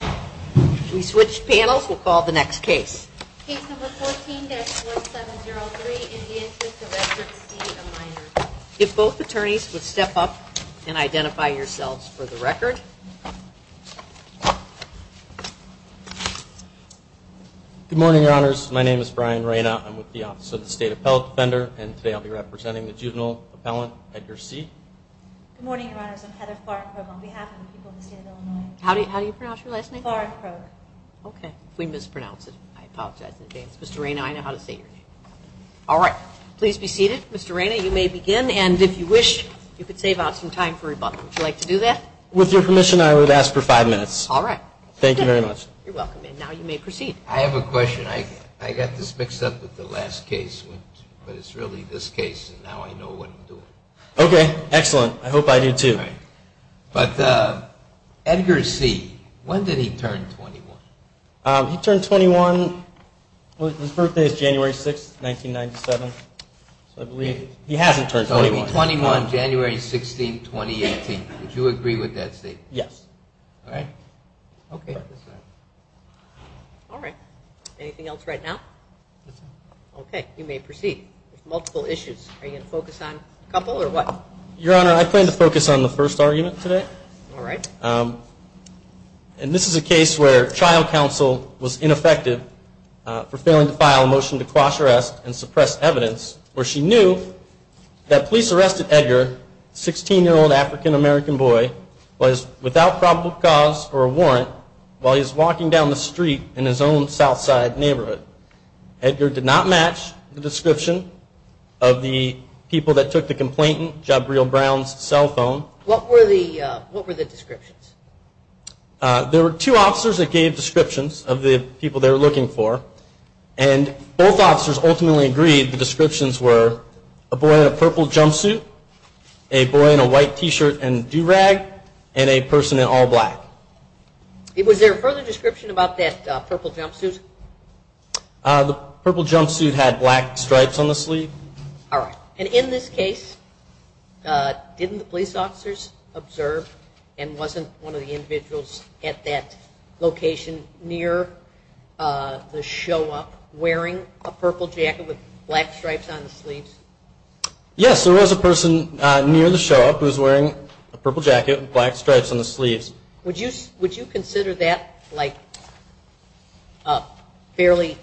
If we switch panels, we'll call the next case. Case number 14-4703, In the Interest of Edgar C., a minor. If both attorneys would step up and identify yourselves for the record. Good morning, Your Honors. My name is Brian Reyna. I'm with the Office of the State Appellate Defender, and today I'll be representing the juvenile appellant, Edgar C. Good morning, Your Honors. I'm Heather Clark. I'm on behalf of the people of the state of Illinois. How do you pronounce your last name? Clark. Okay. We mispronounced it. I apologize in advance. Mr. Reyna, I know how to say your name. All right. Please be seated. Mr. Reyna, you may begin. And if you wish, you could save out some time for rebuttal. Would you like to do that? With your permission, I would ask for five minutes. All right. Thank you very much. You're welcome. And now you may proceed. I have a question. I got this mixed up with the last case, but it's really this case, and now I know what I'm doing. Okay. Excellent. I hope I do, too. All right. But Edgar C., when did he turn 21? He turned 21. His birthday is January 6, 1997. So I believe he hasn't turned 21. So it would be 21, January 16, 2018. Would you agree with that statement? Yes. All right. Okay. All right. Anything else right now? No, sir. Okay. You may proceed. There's multiple issues. Are you going to focus on a couple or what? Your Honor, I plan to focus on the first argument today. All right. And this is a case where trial counsel was ineffective for failing to file a motion to quash arrest and suppress evidence where she knew that police arrested Edgar, a 16-year-old African-American boy, without probable cause or a warrant, while he was walking down the street in his own Southside neighborhood. Edgar did not match the description of the people that took the complainant, Jabril Brown's cell phone. What were the descriptions? There were two officers that gave descriptions of the people they were looking for, and both officers ultimately agreed the descriptions were a boy in a purple jumpsuit, a boy in a white T-shirt and do-rag, and a person in all black. Was there a further description about that purple jumpsuit? The purple jumpsuit had black stripes on the sleeve. All right. And in this case, didn't the police officers observe and wasn't one of the individuals at that location near the show-up wearing a purple jacket with black stripes on the sleeves? Yes, there was a person near the show-up who was wearing a purple jacket with black stripes on the sleeves. Would you consider that like a fairly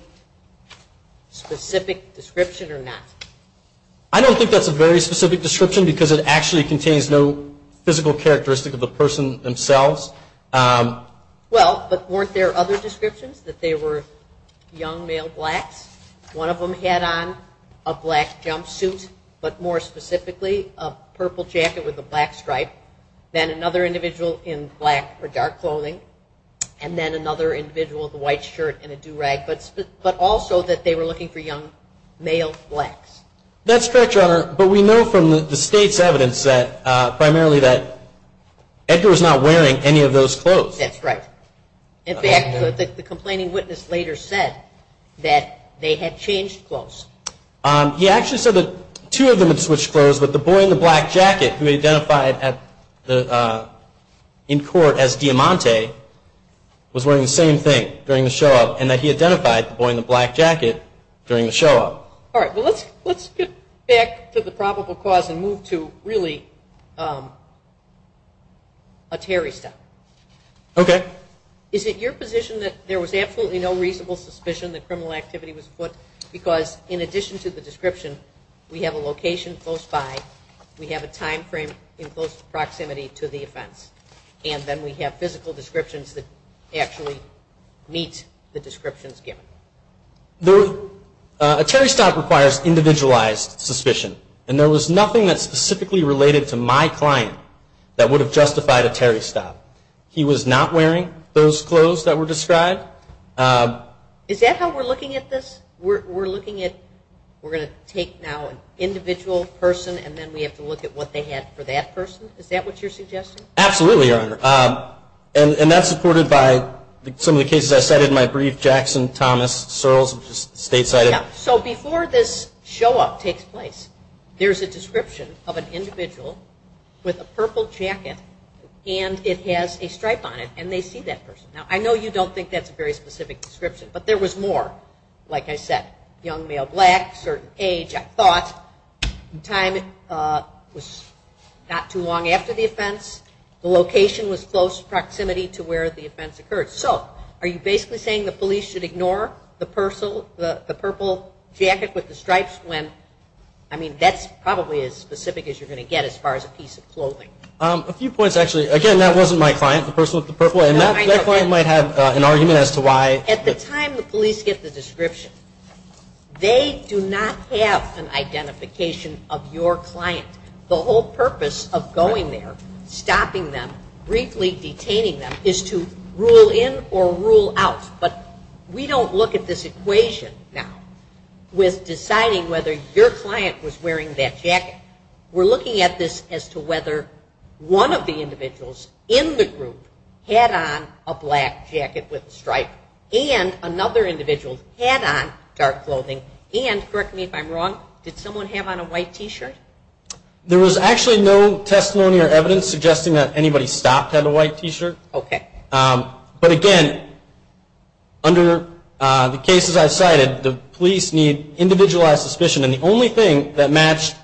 specific description or not? I don't think that's a very specific description because it actually contains no physical characteristic of the person themselves. Well, but weren't there other descriptions that they were young male blacks? One of them had on a black jumpsuit, but more specifically a purple jacket with a black stripe, then another individual in black or dark clothing, and then another individual with a white shirt and a do-rag, but also that they were looking for young male blacks. That's correct, Your Honor, but we know from the state's evidence primarily that Edgar was not wearing any of those clothes. That's right. In fact, the complaining witness later said that they had changed clothes. He actually said that two of them had switched clothes, but the boy in the black jacket who he identified in court as Diamante was wearing the same thing during the show-up and that he identified the boy in the black jacket during the show-up. All right. Well, let's get back to the probable cause and move to really a Terry step. Okay. Is it your position that there was absolutely no reasonable suspicion that criminal activity was foot, because in addition to the description, we have a location close by, we have a time frame in close proximity to the offense, and then we have physical descriptions that actually meet the descriptions given. A Terry stop requires individualized suspicion, and there was nothing that specifically related to my client that would have justified a Terry stop. He was not wearing those clothes that were described. Is that how we're looking at this? We're looking at we're going to take now an individual person and then we have to look at what they had for that person? Is that what you're suggesting? Absolutely, Your Honor. And that's supported by some of the cases I cited in my brief, Jackson, Thomas, Searles, stateside. Yeah. So before this show-up takes place, there's a description of an individual with a purple jacket and it has a stripe on it, and they see that person. Now, I know you don't think that's a very specific description, but there was more. Like I said, young male, black, certain age, I thought. The time was not too long after the offense. The location was close proximity to where the offense occurred. So are you basically saying the police should ignore the purple jacket with the stripes when, I mean, that's probably as specific as you're going to get as far as a piece of clothing. A few points, actually. Again, that wasn't my client, the person with the purple. And that client might have an argument as to why. At the time the police get the description, they do not have an identification of your client. The whole purpose of going there, stopping them, briefly detaining them, is to rule in or rule out. But we don't look at this equation now with deciding whether your client was wearing that jacket. We're looking at this as to whether one of the individuals in the group had on a black jacket with a stripe and another individual had on dark clothing. And, correct me if I'm wrong, did someone have on a white T-shirt? There was actually no testimony or evidence suggesting that anybody stopped had a white T-shirt. Okay. But, again, under the cases I cited, the police need individualized suspicion. And the only thing that matched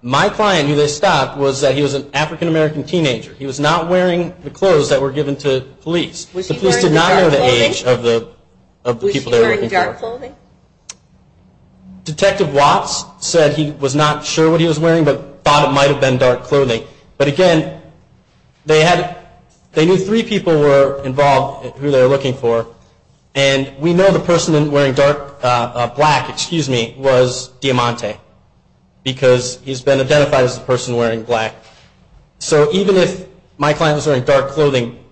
my client who they stopped was that he was an African-American teenager. He was not wearing the clothes that were given to police. The police did not know the age of the people they were looking for. Was he wearing dark clothing? Detective Watts said he was not sure what he was wearing but thought it might have been dark clothing. But, again, they knew three people were involved who they were looking for. And we know the person wearing black was Diamante because he's been identified as the person wearing black. So even if my client was wearing dark clothing,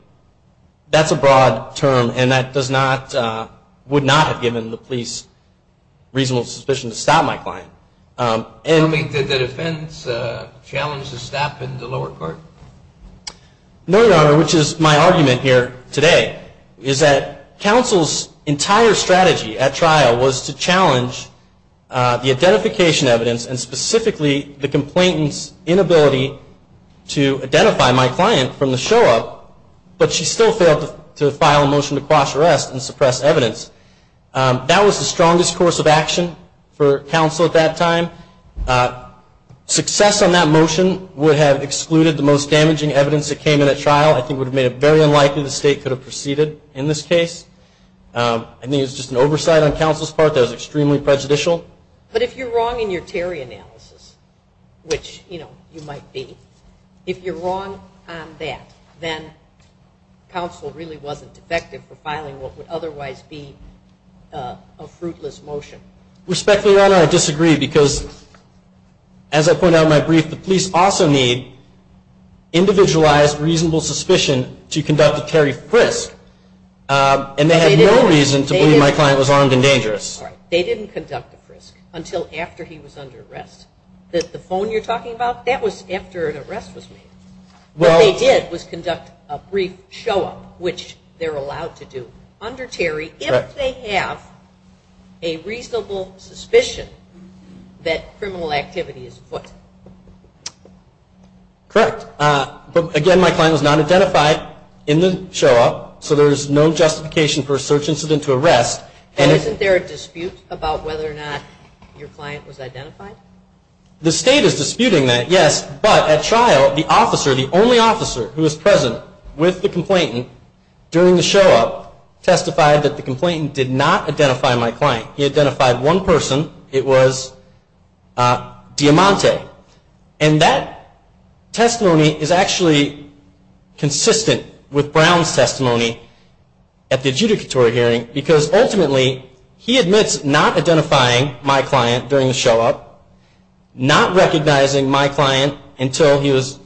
that's a broad term and that would not have given the police reasonable suspicion to stop my client. Did the defense challenge the stop in the lower court? No, Your Honor, which is my argument here today, is that counsel's entire strategy at trial was to challenge the identification evidence and specifically the complainant's inability to identify my client from the show-up, but she still failed to file a motion to cross-arrest and suppress evidence. That was the strongest course of action for counsel at that time. Success on that motion would have excluded the most damaging evidence that came in at trial. I think it would have made it very unlikely the state could have proceeded in this case. I think it was just an oversight on counsel's part that was extremely prejudicial. But if you're wrong in your Terry analysis, which, you know, you might be, if you're wrong on that, then counsel really wasn't effective for filing what would otherwise be a fruitless motion. Respectfully, Your Honor, I disagree because, as I pointed out in my brief, the police also need individualized reasonable suspicion to conduct a Terry frisk and they had no reason to believe my client was armed and dangerous. All right. They didn't conduct a frisk until after he was under arrest. The phone you're talking about, that was after an arrest was made. What they did was conduct a brief show-up, which they're allowed to do under Terry if they have a reasonable suspicion that criminal activity is foot. Correct. But, again, my client was not identified in the show-up, so there's no justification for a search incident to arrest. And isn't there a dispute about whether or not your client was identified? The state is disputing that, yes, but at trial, the officer, the only officer who was present with the complainant during the show-up testified that the complainant did not identify my client. He identified one person. It was Diamante. And that testimony is actually consistent with Brown's testimony at the adjudicatory hearing because, ultimately, he admits not identifying my client during the show-up, not recognizing my client until he was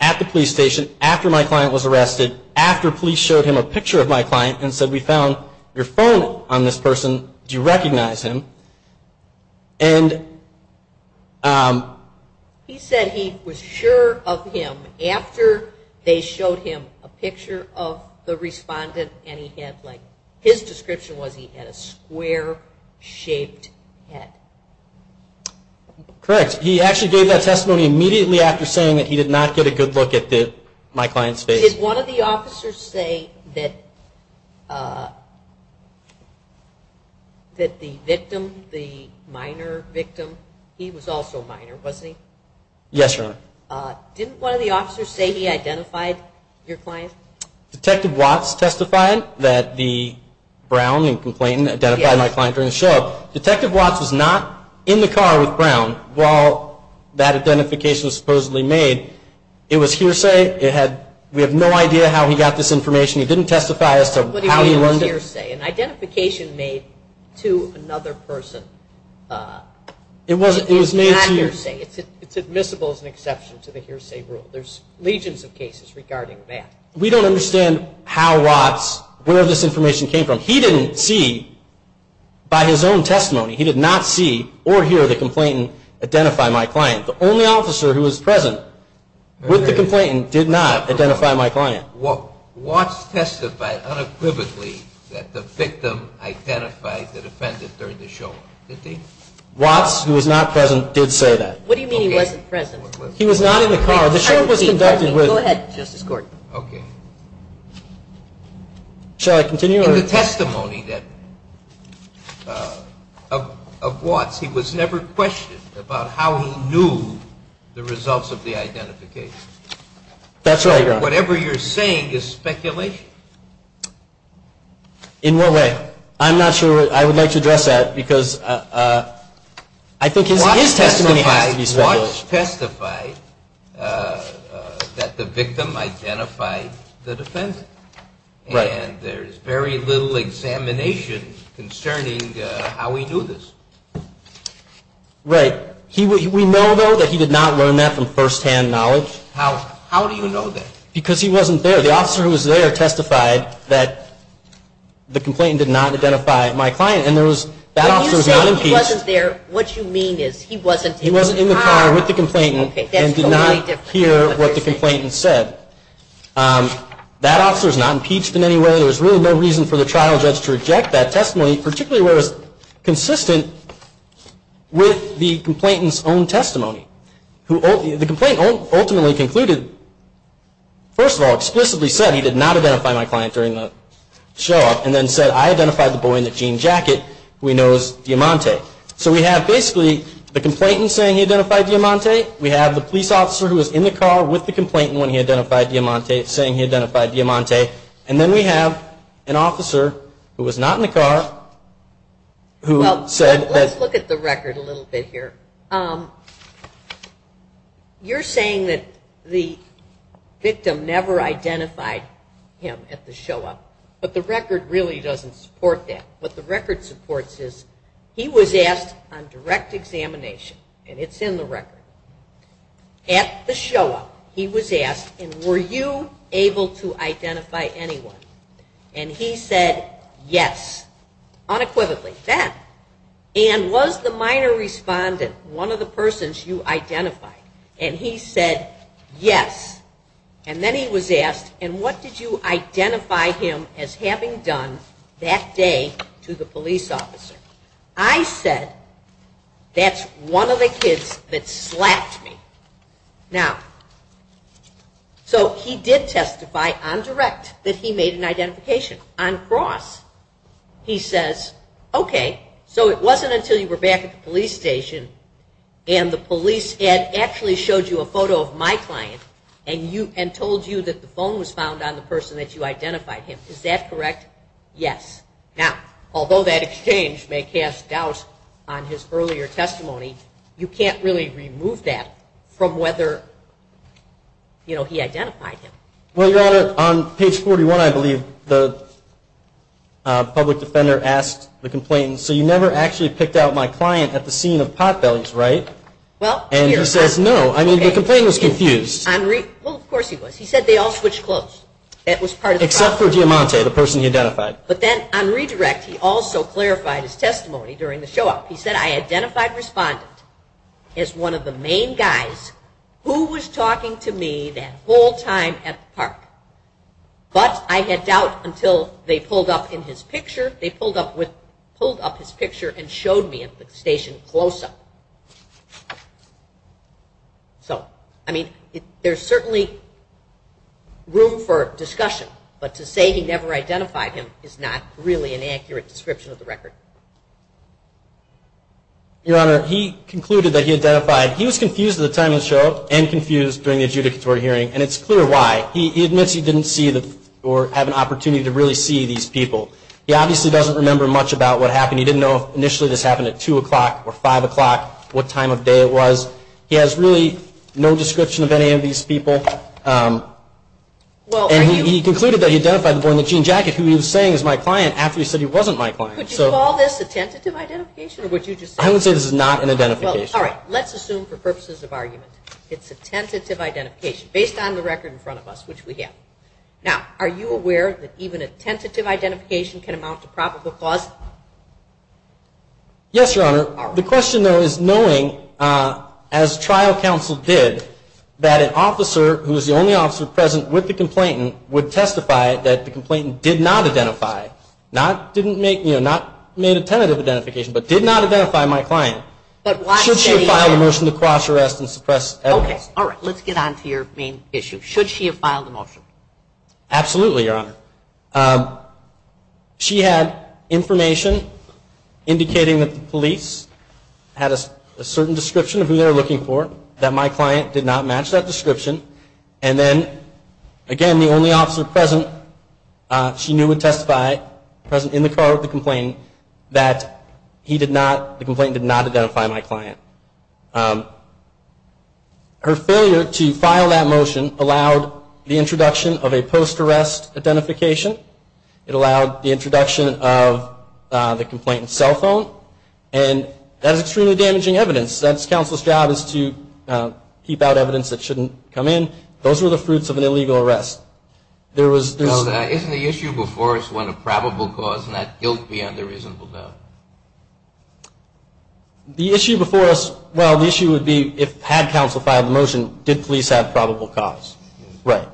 at the police station, after my client was arrested, and after police showed him a picture of my client and said, we found your phone on this person. Do you recognize him? He said he was sure of him after they showed him a picture of the respondent and his description was he had a square-shaped head. Correct. He actually gave that testimony immediately after saying that he did not get a good look at my client's face. Did one of the officers say that the victim, the minor victim, he was also minor, wasn't he? Yes, Your Honor. Didn't one of the officers say he identified your client? Detective Watts testified that Brown, the complainant, identified my client during the show-up. Detective Watts was not in the car with Brown while that identification was supposedly made. It was hearsay. We have no idea how he got this information. He didn't testify as to how he learned it. What do you mean it was hearsay? An identification made to another person. It was made to you. It's not hearsay. It's admissible as an exception to the hearsay rule. There's legions of cases regarding that. We don't understand how Watts, where this information came from. He didn't see by his own testimony. He did not see or hear the complainant identify my client. The only officer who was present with the complainant did not identify my client. Watts testified unequivocally that the victim identified the defendant during the show-up, didn't he? Watts, who was not present, did say that. What do you mean he wasn't present? He was not in the car. The show-up was conducted with- Go ahead, Justice Court. Okay. Shall I continue? In the testimony of Watts, he was never questioned about how he knew the results of the identification. That's right, Your Honor. Whatever you're saying is speculation. In what way? I'm not sure. I would like to address that because I think his testimony has to be speculation. Watts testified that the victim identified the defendant. Right. And there's very little examination concerning how he knew this. Right. We know, though, that he did not learn that from firsthand knowledge. How do you know that? Because he wasn't there. The officer who was there testified that the complainant did not identify my client. And there was- When you say he wasn't there, what you mean is he wasn't in the car. He was in the car with the complainant and did not hear what the complainant said. That officer is not impeached in any way. There's really no reason for the trial judge to reject that testimony, particularly where it's consistent with the complainant's own testimony. The complainant ultimately concluded, first of all, explicitly said he did not identify my client during the show-up, and then said, I identified the boy in the jean jacket who he knows, Diamante. So we have basically the complainant saying he identified Diamante. We have the police officer who was in the car with the complainant when he identified Diamante saying he identified Diamante. And then we have an officer who was not in the car who said- Well, let's look at the record a little bit here. You're saying that the victim never identified him at the show-up. But the record really doesn't support that. What the record supports is he was asked on direct examination, and it's in the record, at the show-up he was asked, and were you able to identify anyone? And he said, yes. Unequivocally. That. And was the minor respondent one of the persons you identified? And he said, yes. And then he was asked, and what did you identify him as having done that day to the police officer? I said, that's one of the kids that slapped me. Now, so he did testify on direct that he made an identification. On cross, he says, okay, so it wasn't until you were back at the police station and the police had actually showed you a photo of my client and told you that the phone was found on the person that you identified him. Is that correct? Yes. Now, although that exchange may cast doubt on his earlier testimony, you can't really remove that from whether, you know, he identified him. Well, Your Honor, on page 41, I believe, the public defender asked the complainant, so you never actually picked out my client at the scene of Potbelly's, right? And he says, no. I mean, the complainant was confused. Well, of course he was. He said they all switched clothes. Except for Diamante, the person he identified. But then on redirect, he also clarified his testimony during the show out. He said, I identified respondent as one of the main guys who was talking to me that whole time at the park. But I had doubt until they pulled up in his picture. They pulled up his picture and showed me at the station close up. So, I mean, there's certainly room for discussion, but to say he never identified him is not really an accurate description of the record. Your Honor, he concluded that he identified, he was confused at the time of the show and confused during the adjudicatory hearing, and it's clear why. He admits he didn't see or have an opportunity to really see these people. He obviously doesn't remember much about what happened. He didn't know if initially this happened at 2 o'clock or 5 o'clock, what time of day it was. He has really no description of any of these people. And he concluded that he identified the boy in the jean jacket who he was saying was my client after he said he wasn't my client. Could you call this a tentative identification? I would say this is not an identification. All right. Let's assume for purposes of argument it's a tentative identification. Based on the record in front of us, which we have. Now, are you aware that even a tentative identification can amount to probable cause? Yes, Your Honor. The question, though, is knowing, as trial counsel did, that an officer who is the only officer present with the complainant would testify that the complainant did not identify, not made a tentative identification, but did not identify my client. Should she file a motion to cross arrest and suppress evidence? Yes. All right. Let's get on to your main issue. Should she have filed a motion? Absolutely, Your Honor. She had information indicating that the police had a certain description of who they were looking for, that my client did not match that description. And then, again, the only officer present she knew would testify, present in the car with the complainant, that he did not, the complainant did not identify my client. Her failure to file that motion allowed the introduction of a post-arrest identification. It allowed the introduction of the complainant's cell phone. And that is extremely damaging evidence. That's counsel's job is to keep out evidence that shouldn't come in. Those were the fruits of an illegal arrest. Isn't the issue before us one of probable cause and not guilt beyond a reasonable doubt? The issue before us, well, the issue would be if, had counsel filed the motion, did police have probable cause? Right.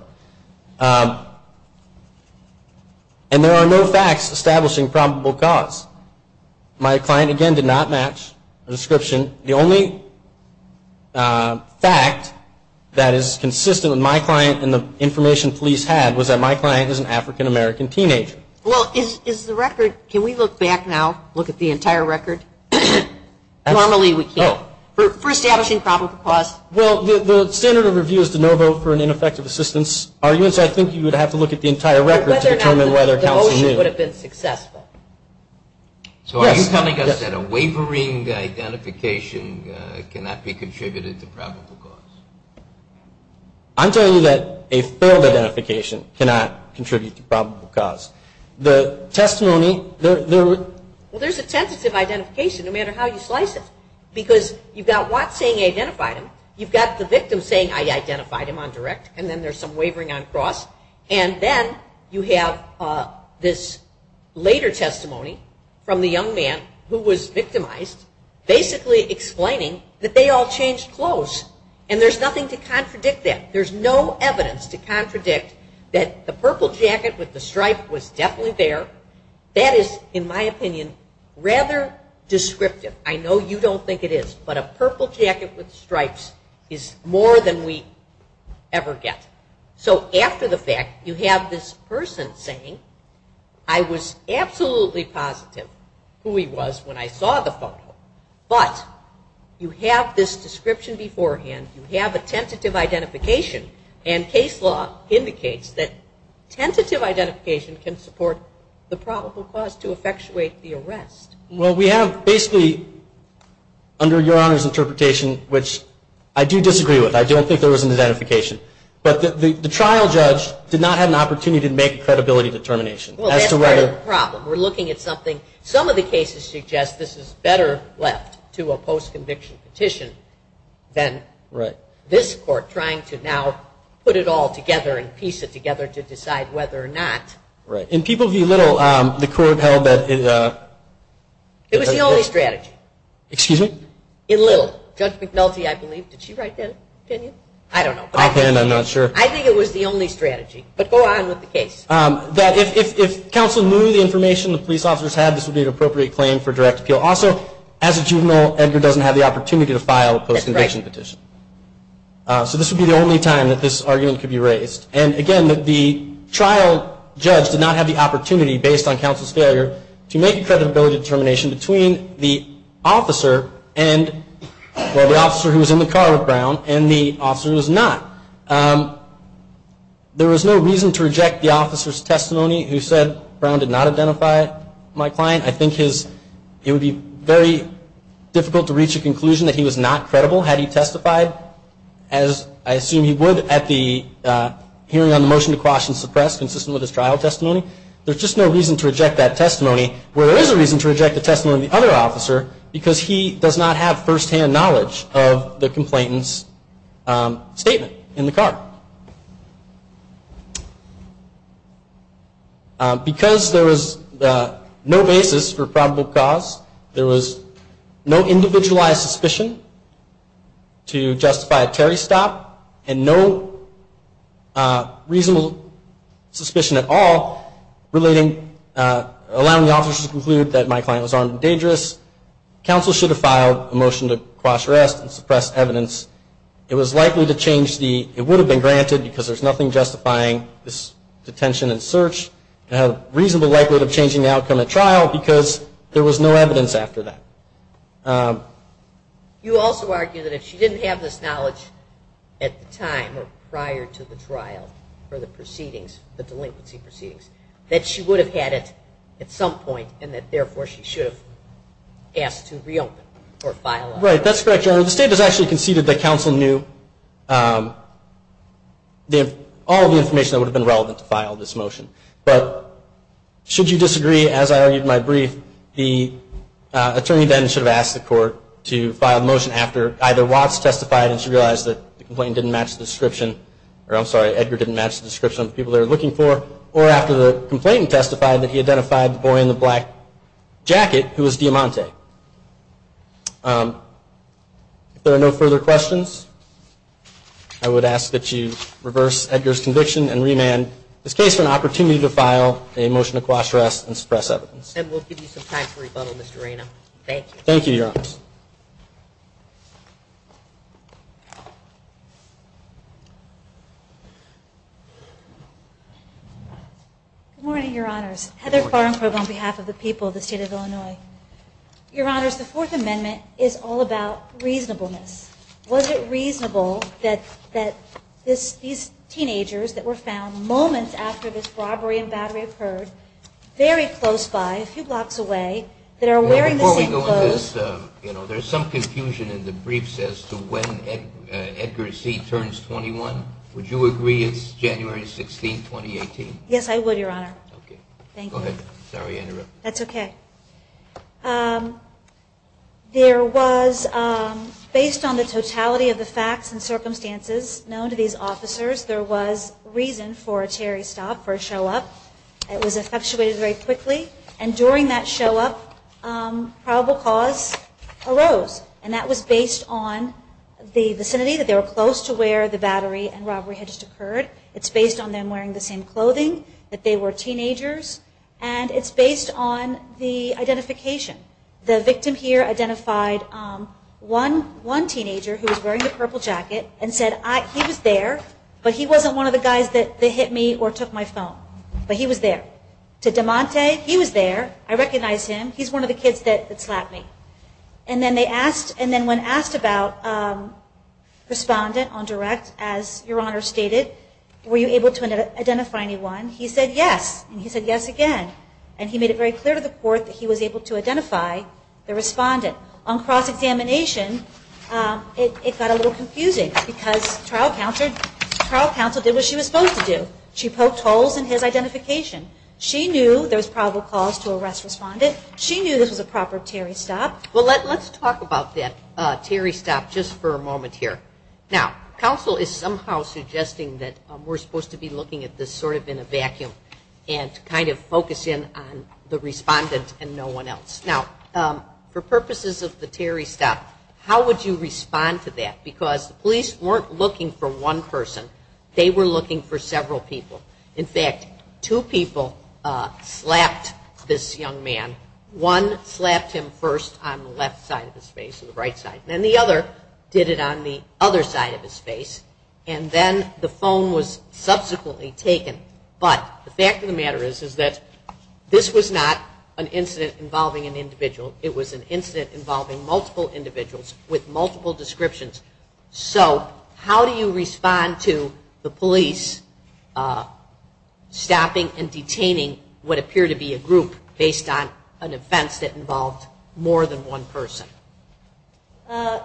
And there are no facts establishing probable cause. My client, again, did not match a description. The only fact that is consistent with my client and the information police had was that my client is an African-American teenager. Well, is the record, can we look back now, look at the entire record? Normally we can't. Oh. For establishing probable cause. Well, the standard of review is to no vote for an ineffective assistance. I think you would have to look at the entire record to determine whether counsel knew. The motion would have been successful. So are you telling us that a wavering identification cannot be contributed to probable cause? I'm telling you that a failed identification cannot contribute to probable cause. The testimony, there were. Well, there's a tentative identification no matter how you slice it because you've got Watts saying he identified him, you've got the victim saying I identified him on direct, and then there's some wavering on cross, and then you have this later testimony from the young man who was victimized basically explaining that they all changed clothes and there's nothing to contradict that. There's no evidence to contradict that the purple jacket with the stripe was definitely there. That is, in my opinion, rather descriptive. I know you don't think it is, but a purple jacket with stripes is more than we ever get. So after the fact, you have this person saying I was absolutely positive who he was when I saw the photo, but you have this description beforehand, you have a tentative identification, and case law indicates that tentative identification can support the probable cause to effectuate the arrest. Well, we have basically under Your Honor's interpretation, which I do disagree with. I don't think there was an identification. But the trial judge did not have an opportunity to make a credibility determination. Well, that's part of the problem. We're looking at something. Some of the cases suggest this is better left to a post-conviction petition than this court trying to now put it all together and piece it together to decide whether or not. Right. In People v. Little, the court held that... It was the only strategy. Excuse me? In Little. Judge McNulty, I believe. Did she write that opinion? I don't know. Offhand, I'm not sure. I think it was the only strategy. But go on with the case. That if counsel knew the information the police officers had, this would be an appropriate claim for direct appeal. Also, as a juvenile, Edgar doesn't have the opportunity to file a post-conviction petition. So this would be the only time that this argument could be raised. And again, the trial judge did not have the opportunity, based on counsel's failure, to make a creditability determination between the officer and... Well, the officer who was in the car with Brown and the officer who was not. There was no reason to reject the officer's testimony who said, Brown did not identify my client. I think it would be very difficult to reach a conclusion that he was not credible had he testified, as I assume he would at the hearing on the motion to quash and suppress, consistent with his trial testimony. There's just no reason to reject that testimony, where there is a reason to reject the testimony of the other officer, because he does not have first-hand knowledge of the complainant's statement in the car. Because there was no basis for probable cause, there was no individualized suspicion to justify a Terry stop, and no reasonable suspicion at all relating... allowing the officer to conclude that my client was armed and dangerous. Counsel should have filed a motion to quash arrest and suppress evidence. It was likely to change the... It would have been granted, because there's nothing justifying this detention and search, and had a reasonable likelihood of changing the outcome at trial, because there was no evidence after that. You also argue that if she didn't have this knowledge at the time, or prior to the trial, or the proceedings, the delinquency proceedings, that she would have had it at some point, and that therefore she should have asked to reopen, or file a motion. Right, that's correct, Your Honor. The state has actually conceded that counsel knew... all of the information that would have been relevant to file this motion. But should you disagree, as I argued in my brief, the attorney then should have asked the court to file the motion after either Watts testified and she realized that the complainant didn't match the description, or I'm sorry, Edgar didn't match the description of the people they were looking for, or after the complainant testified that he identified the boy in the black jacket who was Diamante. If there are no further questions, I would ask that you reverse Edgar's conviction, and remand this case for an opportunity to file a motion to quash arrest and suppress evidence. And we'll give you some time to rebuttal, Mr. Reyna. Thank you. Thank you, Your Honor. Good morning, Your Honors. Heather Farnsworth on behalf of the people of the state of Illinois. Your Honors, the Fourth Amendment is all about reasonableness. Was it reasonable that these teenagers that were found moments after this robbery and battery occurred, very close by, a few blocks away, that are wearing the same clothes? Before we go into this, there's some confusion in the briefs as to when Edgar C. turns 21. Would you agree it's January 16, 2018? Yes, I would, Your Honor. Okay. Thank you. Sorry to interrupt. That's okay. There was, based on the totality of the facts and circumstances known to these officers, there was reason for a cherry stop, for a show up. It was effectuated very quickly. And during that show up, probable cause arose. And that was based on the vicinity that they were close to where the battery and robbery had just occurred. It's based on them wearing the same clothing, that they were teenagers. And it's based on the identification. The victim here identified one teenager who was wearing a purple jacket and said, he was there, but he wasn't one of the guys that hit me or took my phone. But he was there. To DeMonte, he was there. I recognized him. He's one of the kids that slapped me. And then when asked about respondent on direct, as Your Honor stated, were you able to identify anyone? He said yes. And he said yes again. And he made it very clear to the court that he was able to identify the respondent. On cross-examination, it got a little confusing. Because trial counsel did what she was supposed to do. She poked holes in his identification. She knew there was probable cause to arrest respondent. She knew this was a proper cherry stop. Well, let's talk about that cherry stop just for a moment here. Now, counsel is somehow suggesting that we're supposed to be looking at this sort of in a vacuum and kind of focus in on the respondent and no one else. Now, for purposes of the cherry stop, how would you respond to that? Because the police weren't looking for one person. They were looking for several people. In fact, two people slapped this young man. One slapped him first on the left side of his face, on the right side. And then the other did it on the other side of his face. And then the phone was subsequently taken. But the fact of the matter is that this was not an incident involving an individual. It was an incident involving multiple individuals with multiple descriptions. So how do you respond to the police stopping and detaining what appeared to be a group based on an offense that involved more than one person? The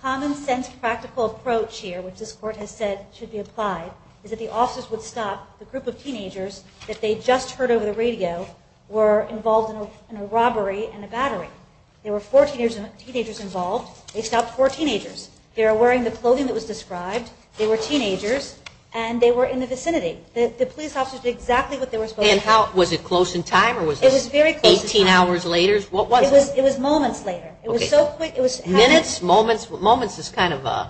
common sense practical approach here, which this Court has said should be applied, is that the officers would stop the group of teenagers that they just heard over the radio were involved in a robbery and a battery. There were 14 teenagers involved. They stopped four teenagers. They were wearing the clothing that was described. They were teenagers, and they were in the vicinity. The police officers did exactly what they were supposed to do. And was it close in time or was it 18 hours later? It was moments later. Minutes? Moments? Moments is kind of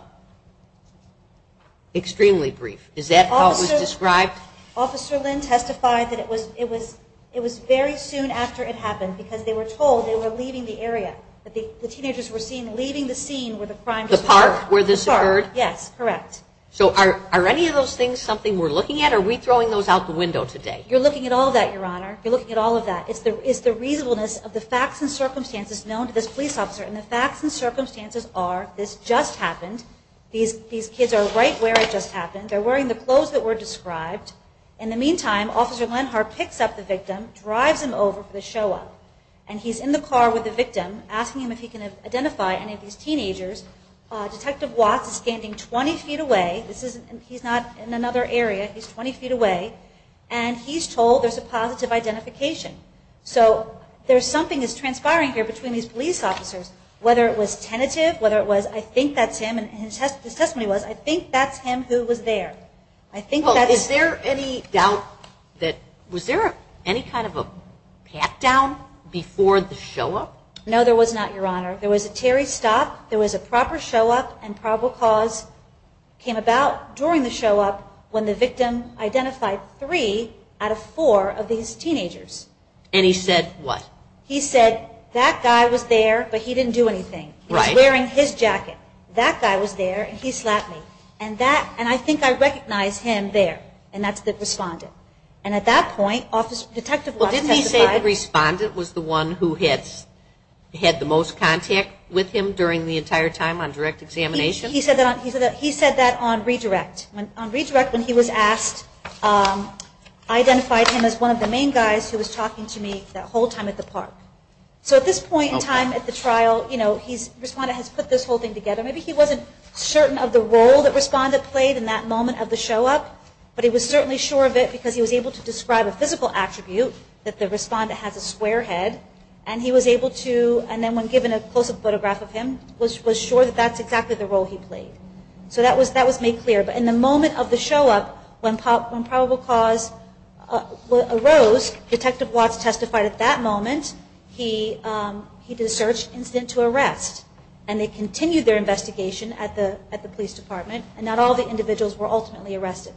extremely brief. Is that how it was described? Officer Lynn testified that it was very soon after it happened because they were told they were leaving the area. The teenagers were seen leaving the scene where the crime just occurred. The park where this occurred? Yes, correct. So are any of those things something we're looking at, or are we throwing those out the window today? You're looking at all of that, Your Honor. You're looking at all of that. It's the reasonableness of the facts and circumstances known to this police officer. And the facts and circumstances are this just happened. These kids are right where it just happened. They're wearing the clothes that were described. In the meantime, Officer Lenhart picks up the victim, drives him over for the show-up. And he's in the car with the victim, asking him if he can identify any of these teenagers. Detective Watts is standing 20 feet away. He's not in another area. He's 20 feet away. And he's told there's a positive identification. So there's something that's transpiring here between these police officers, whether it was tentative, whether it was, I think that's him, and his testimony was, I think that's him who was there. Well, is there any doubt that, was there any kind of a pat-down before the show-up? No, there was not, Your Honor. There was a Terry stop, there was a proper show-up, and probable cause came about during the show-up when the victim identified three out of four of these teenagers. And he said what? He said, that guy was there, but he didn't do anything. He was wearing his jacket. That guy was there, and he slapped me. And I think I recognized him there, and that's the respondent. And at that point, Detective Watts testified. Well, didn't he say the respondent was the one who had the most contact with him during the entire time on direct examination? He said that on redirect. On redirect, when he was asked, I identified him as one of the main guys who was talking to me that whole time at the park. So at this point in time at the trial, you know, the respondent has put this whole thing together. Maybe he wasn't certain of the role that respondent played in that moment of the show-up, but he was certainly sure of it because he was able to describe a physical attribute that the respondent has a square head, and he was able to, and then when given a close-up photograph of him, was sure that that's exactly the role he played. So that was made clear. But in the moment of the show-up, when probable cause arose, Detective Watts testified at that moment he did a search incident to arrest. And they continued their investigation at the police department, and not all the individuals were ultimately arrested.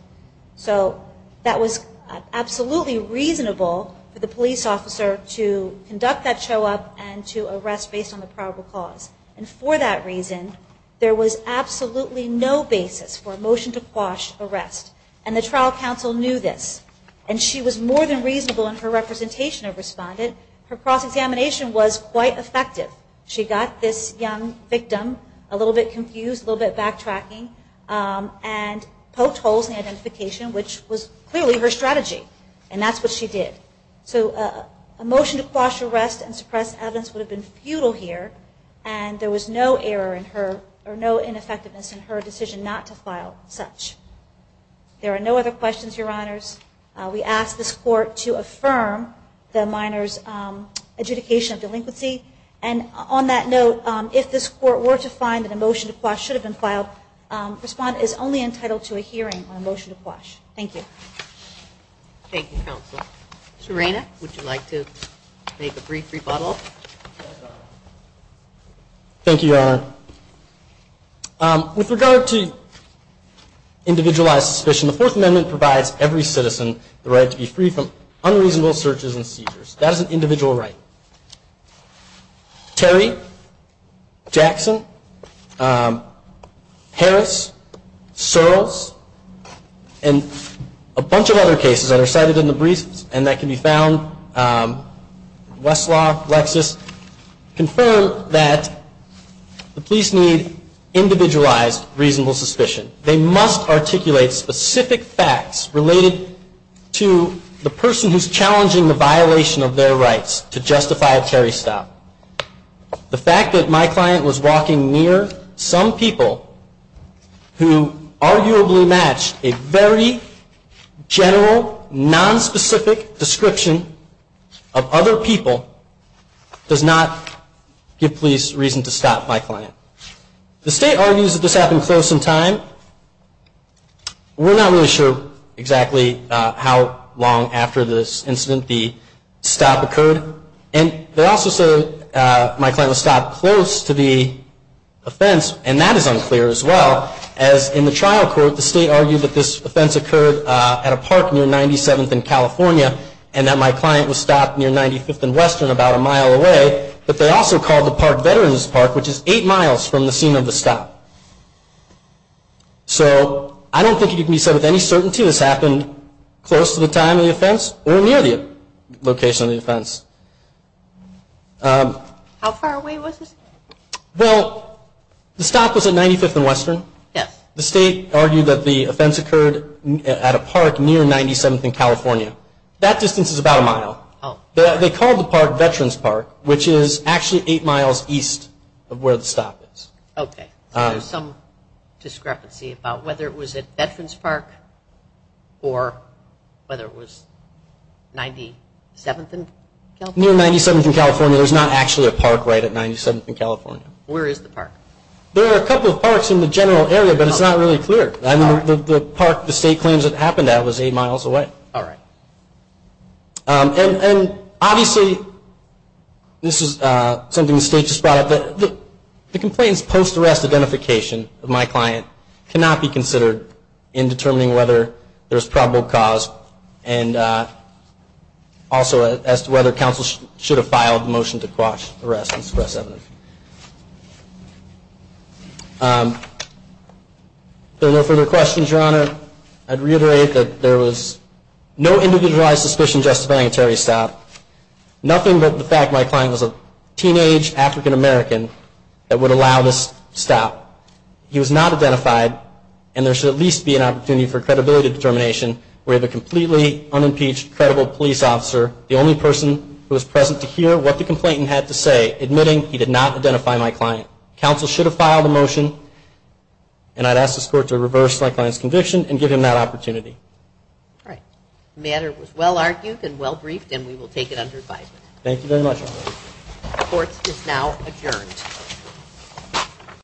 So that was absolutely reasonable for the police officer to conduct that show-up and to arrest based on the probable cause. And for that reason, there was absolutely no basis for a motion to quash arrest. And the trial counsel knew this. And she was more than reasonable in her representation of respondent. Her cross-examination was quite effective. She got this young victim a little bit confused, a little bit backtracking, and poked holes in the identification, which was clearly her strategy. And that's what she did. So a motion to quash arrest and suppress evidence would have been futile here. And there was no error in her or no ineffectiveness in her decision not to file such. There are no other questions, Your Honors. We ask this Court to affirm the minor's adjudication of delinquency. And on that note, if this Court were to find that a motion to quash should have been filed, respondent is only entitled to a hearing on a motion to quash. Thank you. Thank you, Counsel. Serena, would you like to make a brief rebuttal? Thank you, Your Honor. With regard to individualized suspicion, the Fourth Amendment provides every citizen the right to be free from unreasonable searches and seizures. That is an individual right. Terry, Jackson, Harris, Searles, and a bunch of other cases that are cited in the briefs and that can be found, Westlaw, Lexis, confirm that the police need individualized reasonable suspicion. They must articulate specific facts related to the person who's challenging the violation of their rights to justify a Terry stop. The fact that my client was walking near some people who arguably matched a very general, nonspecific description of other people does not give police reason to stop my client. The State argues that this happened close in time. We're not really sure exactly how long after this incident the stop occurred. And they also say that my client was stopped close to the offense, and that is unclear as well. As in the trial court, the State argued that this offense occurred at a park near 97th and California, and that my client was stopped near 95th and Western about a mile away. But they also called the park Veterans Park, which is eight miles from the scene of the stop. So I don't think it can be said with any certainty this happened close to the time of the offense or near the location of the offense. How far away was this? Well, the stop was at 95th and Western. Yes. The State argued that the offense occurred at a park near 97th and California. That distance is about a mile. They called the park Veterans Park, which is actually eight miles east of where the stop is. Okay. So there's some discrepancy about whether it was at Veterans Park or whether it was 97th and California. Near 97th and California. I mean, there's not actually a park right at 97th and California. Where is the park? There are a couple of parks in the general area, but it's not really clear. The park the State claims it happened at was eight miles away. All right. And obviously this is something the State just brought up. The complainant's post-arrest identification of my client cannot be considered in determining whether there's probable cause and also as to whether counsel should have filed a motion to quash arrest and suppress evidence. If there are no further questions, Your Honor, I'd reiterate that there was no individualized suspicion justifying a terrorist stop, nothing but the fact my client was a teenage African-American that would allow this stop. He was not identified, and there should at least be an opportunity for credibility determination where the completely unimpeached credible police officer, the only person who was present to hear what the complainant had to say, admitting he did not identify my client. Counsel should have filed a motion, and I'd ask this Court to reverse my client's conviction and give him that opportunity. All right. The matter was well-argued and well-briefed, and we will take it under advisement. Thank you very much, Your Honor. The Court is now adjourned.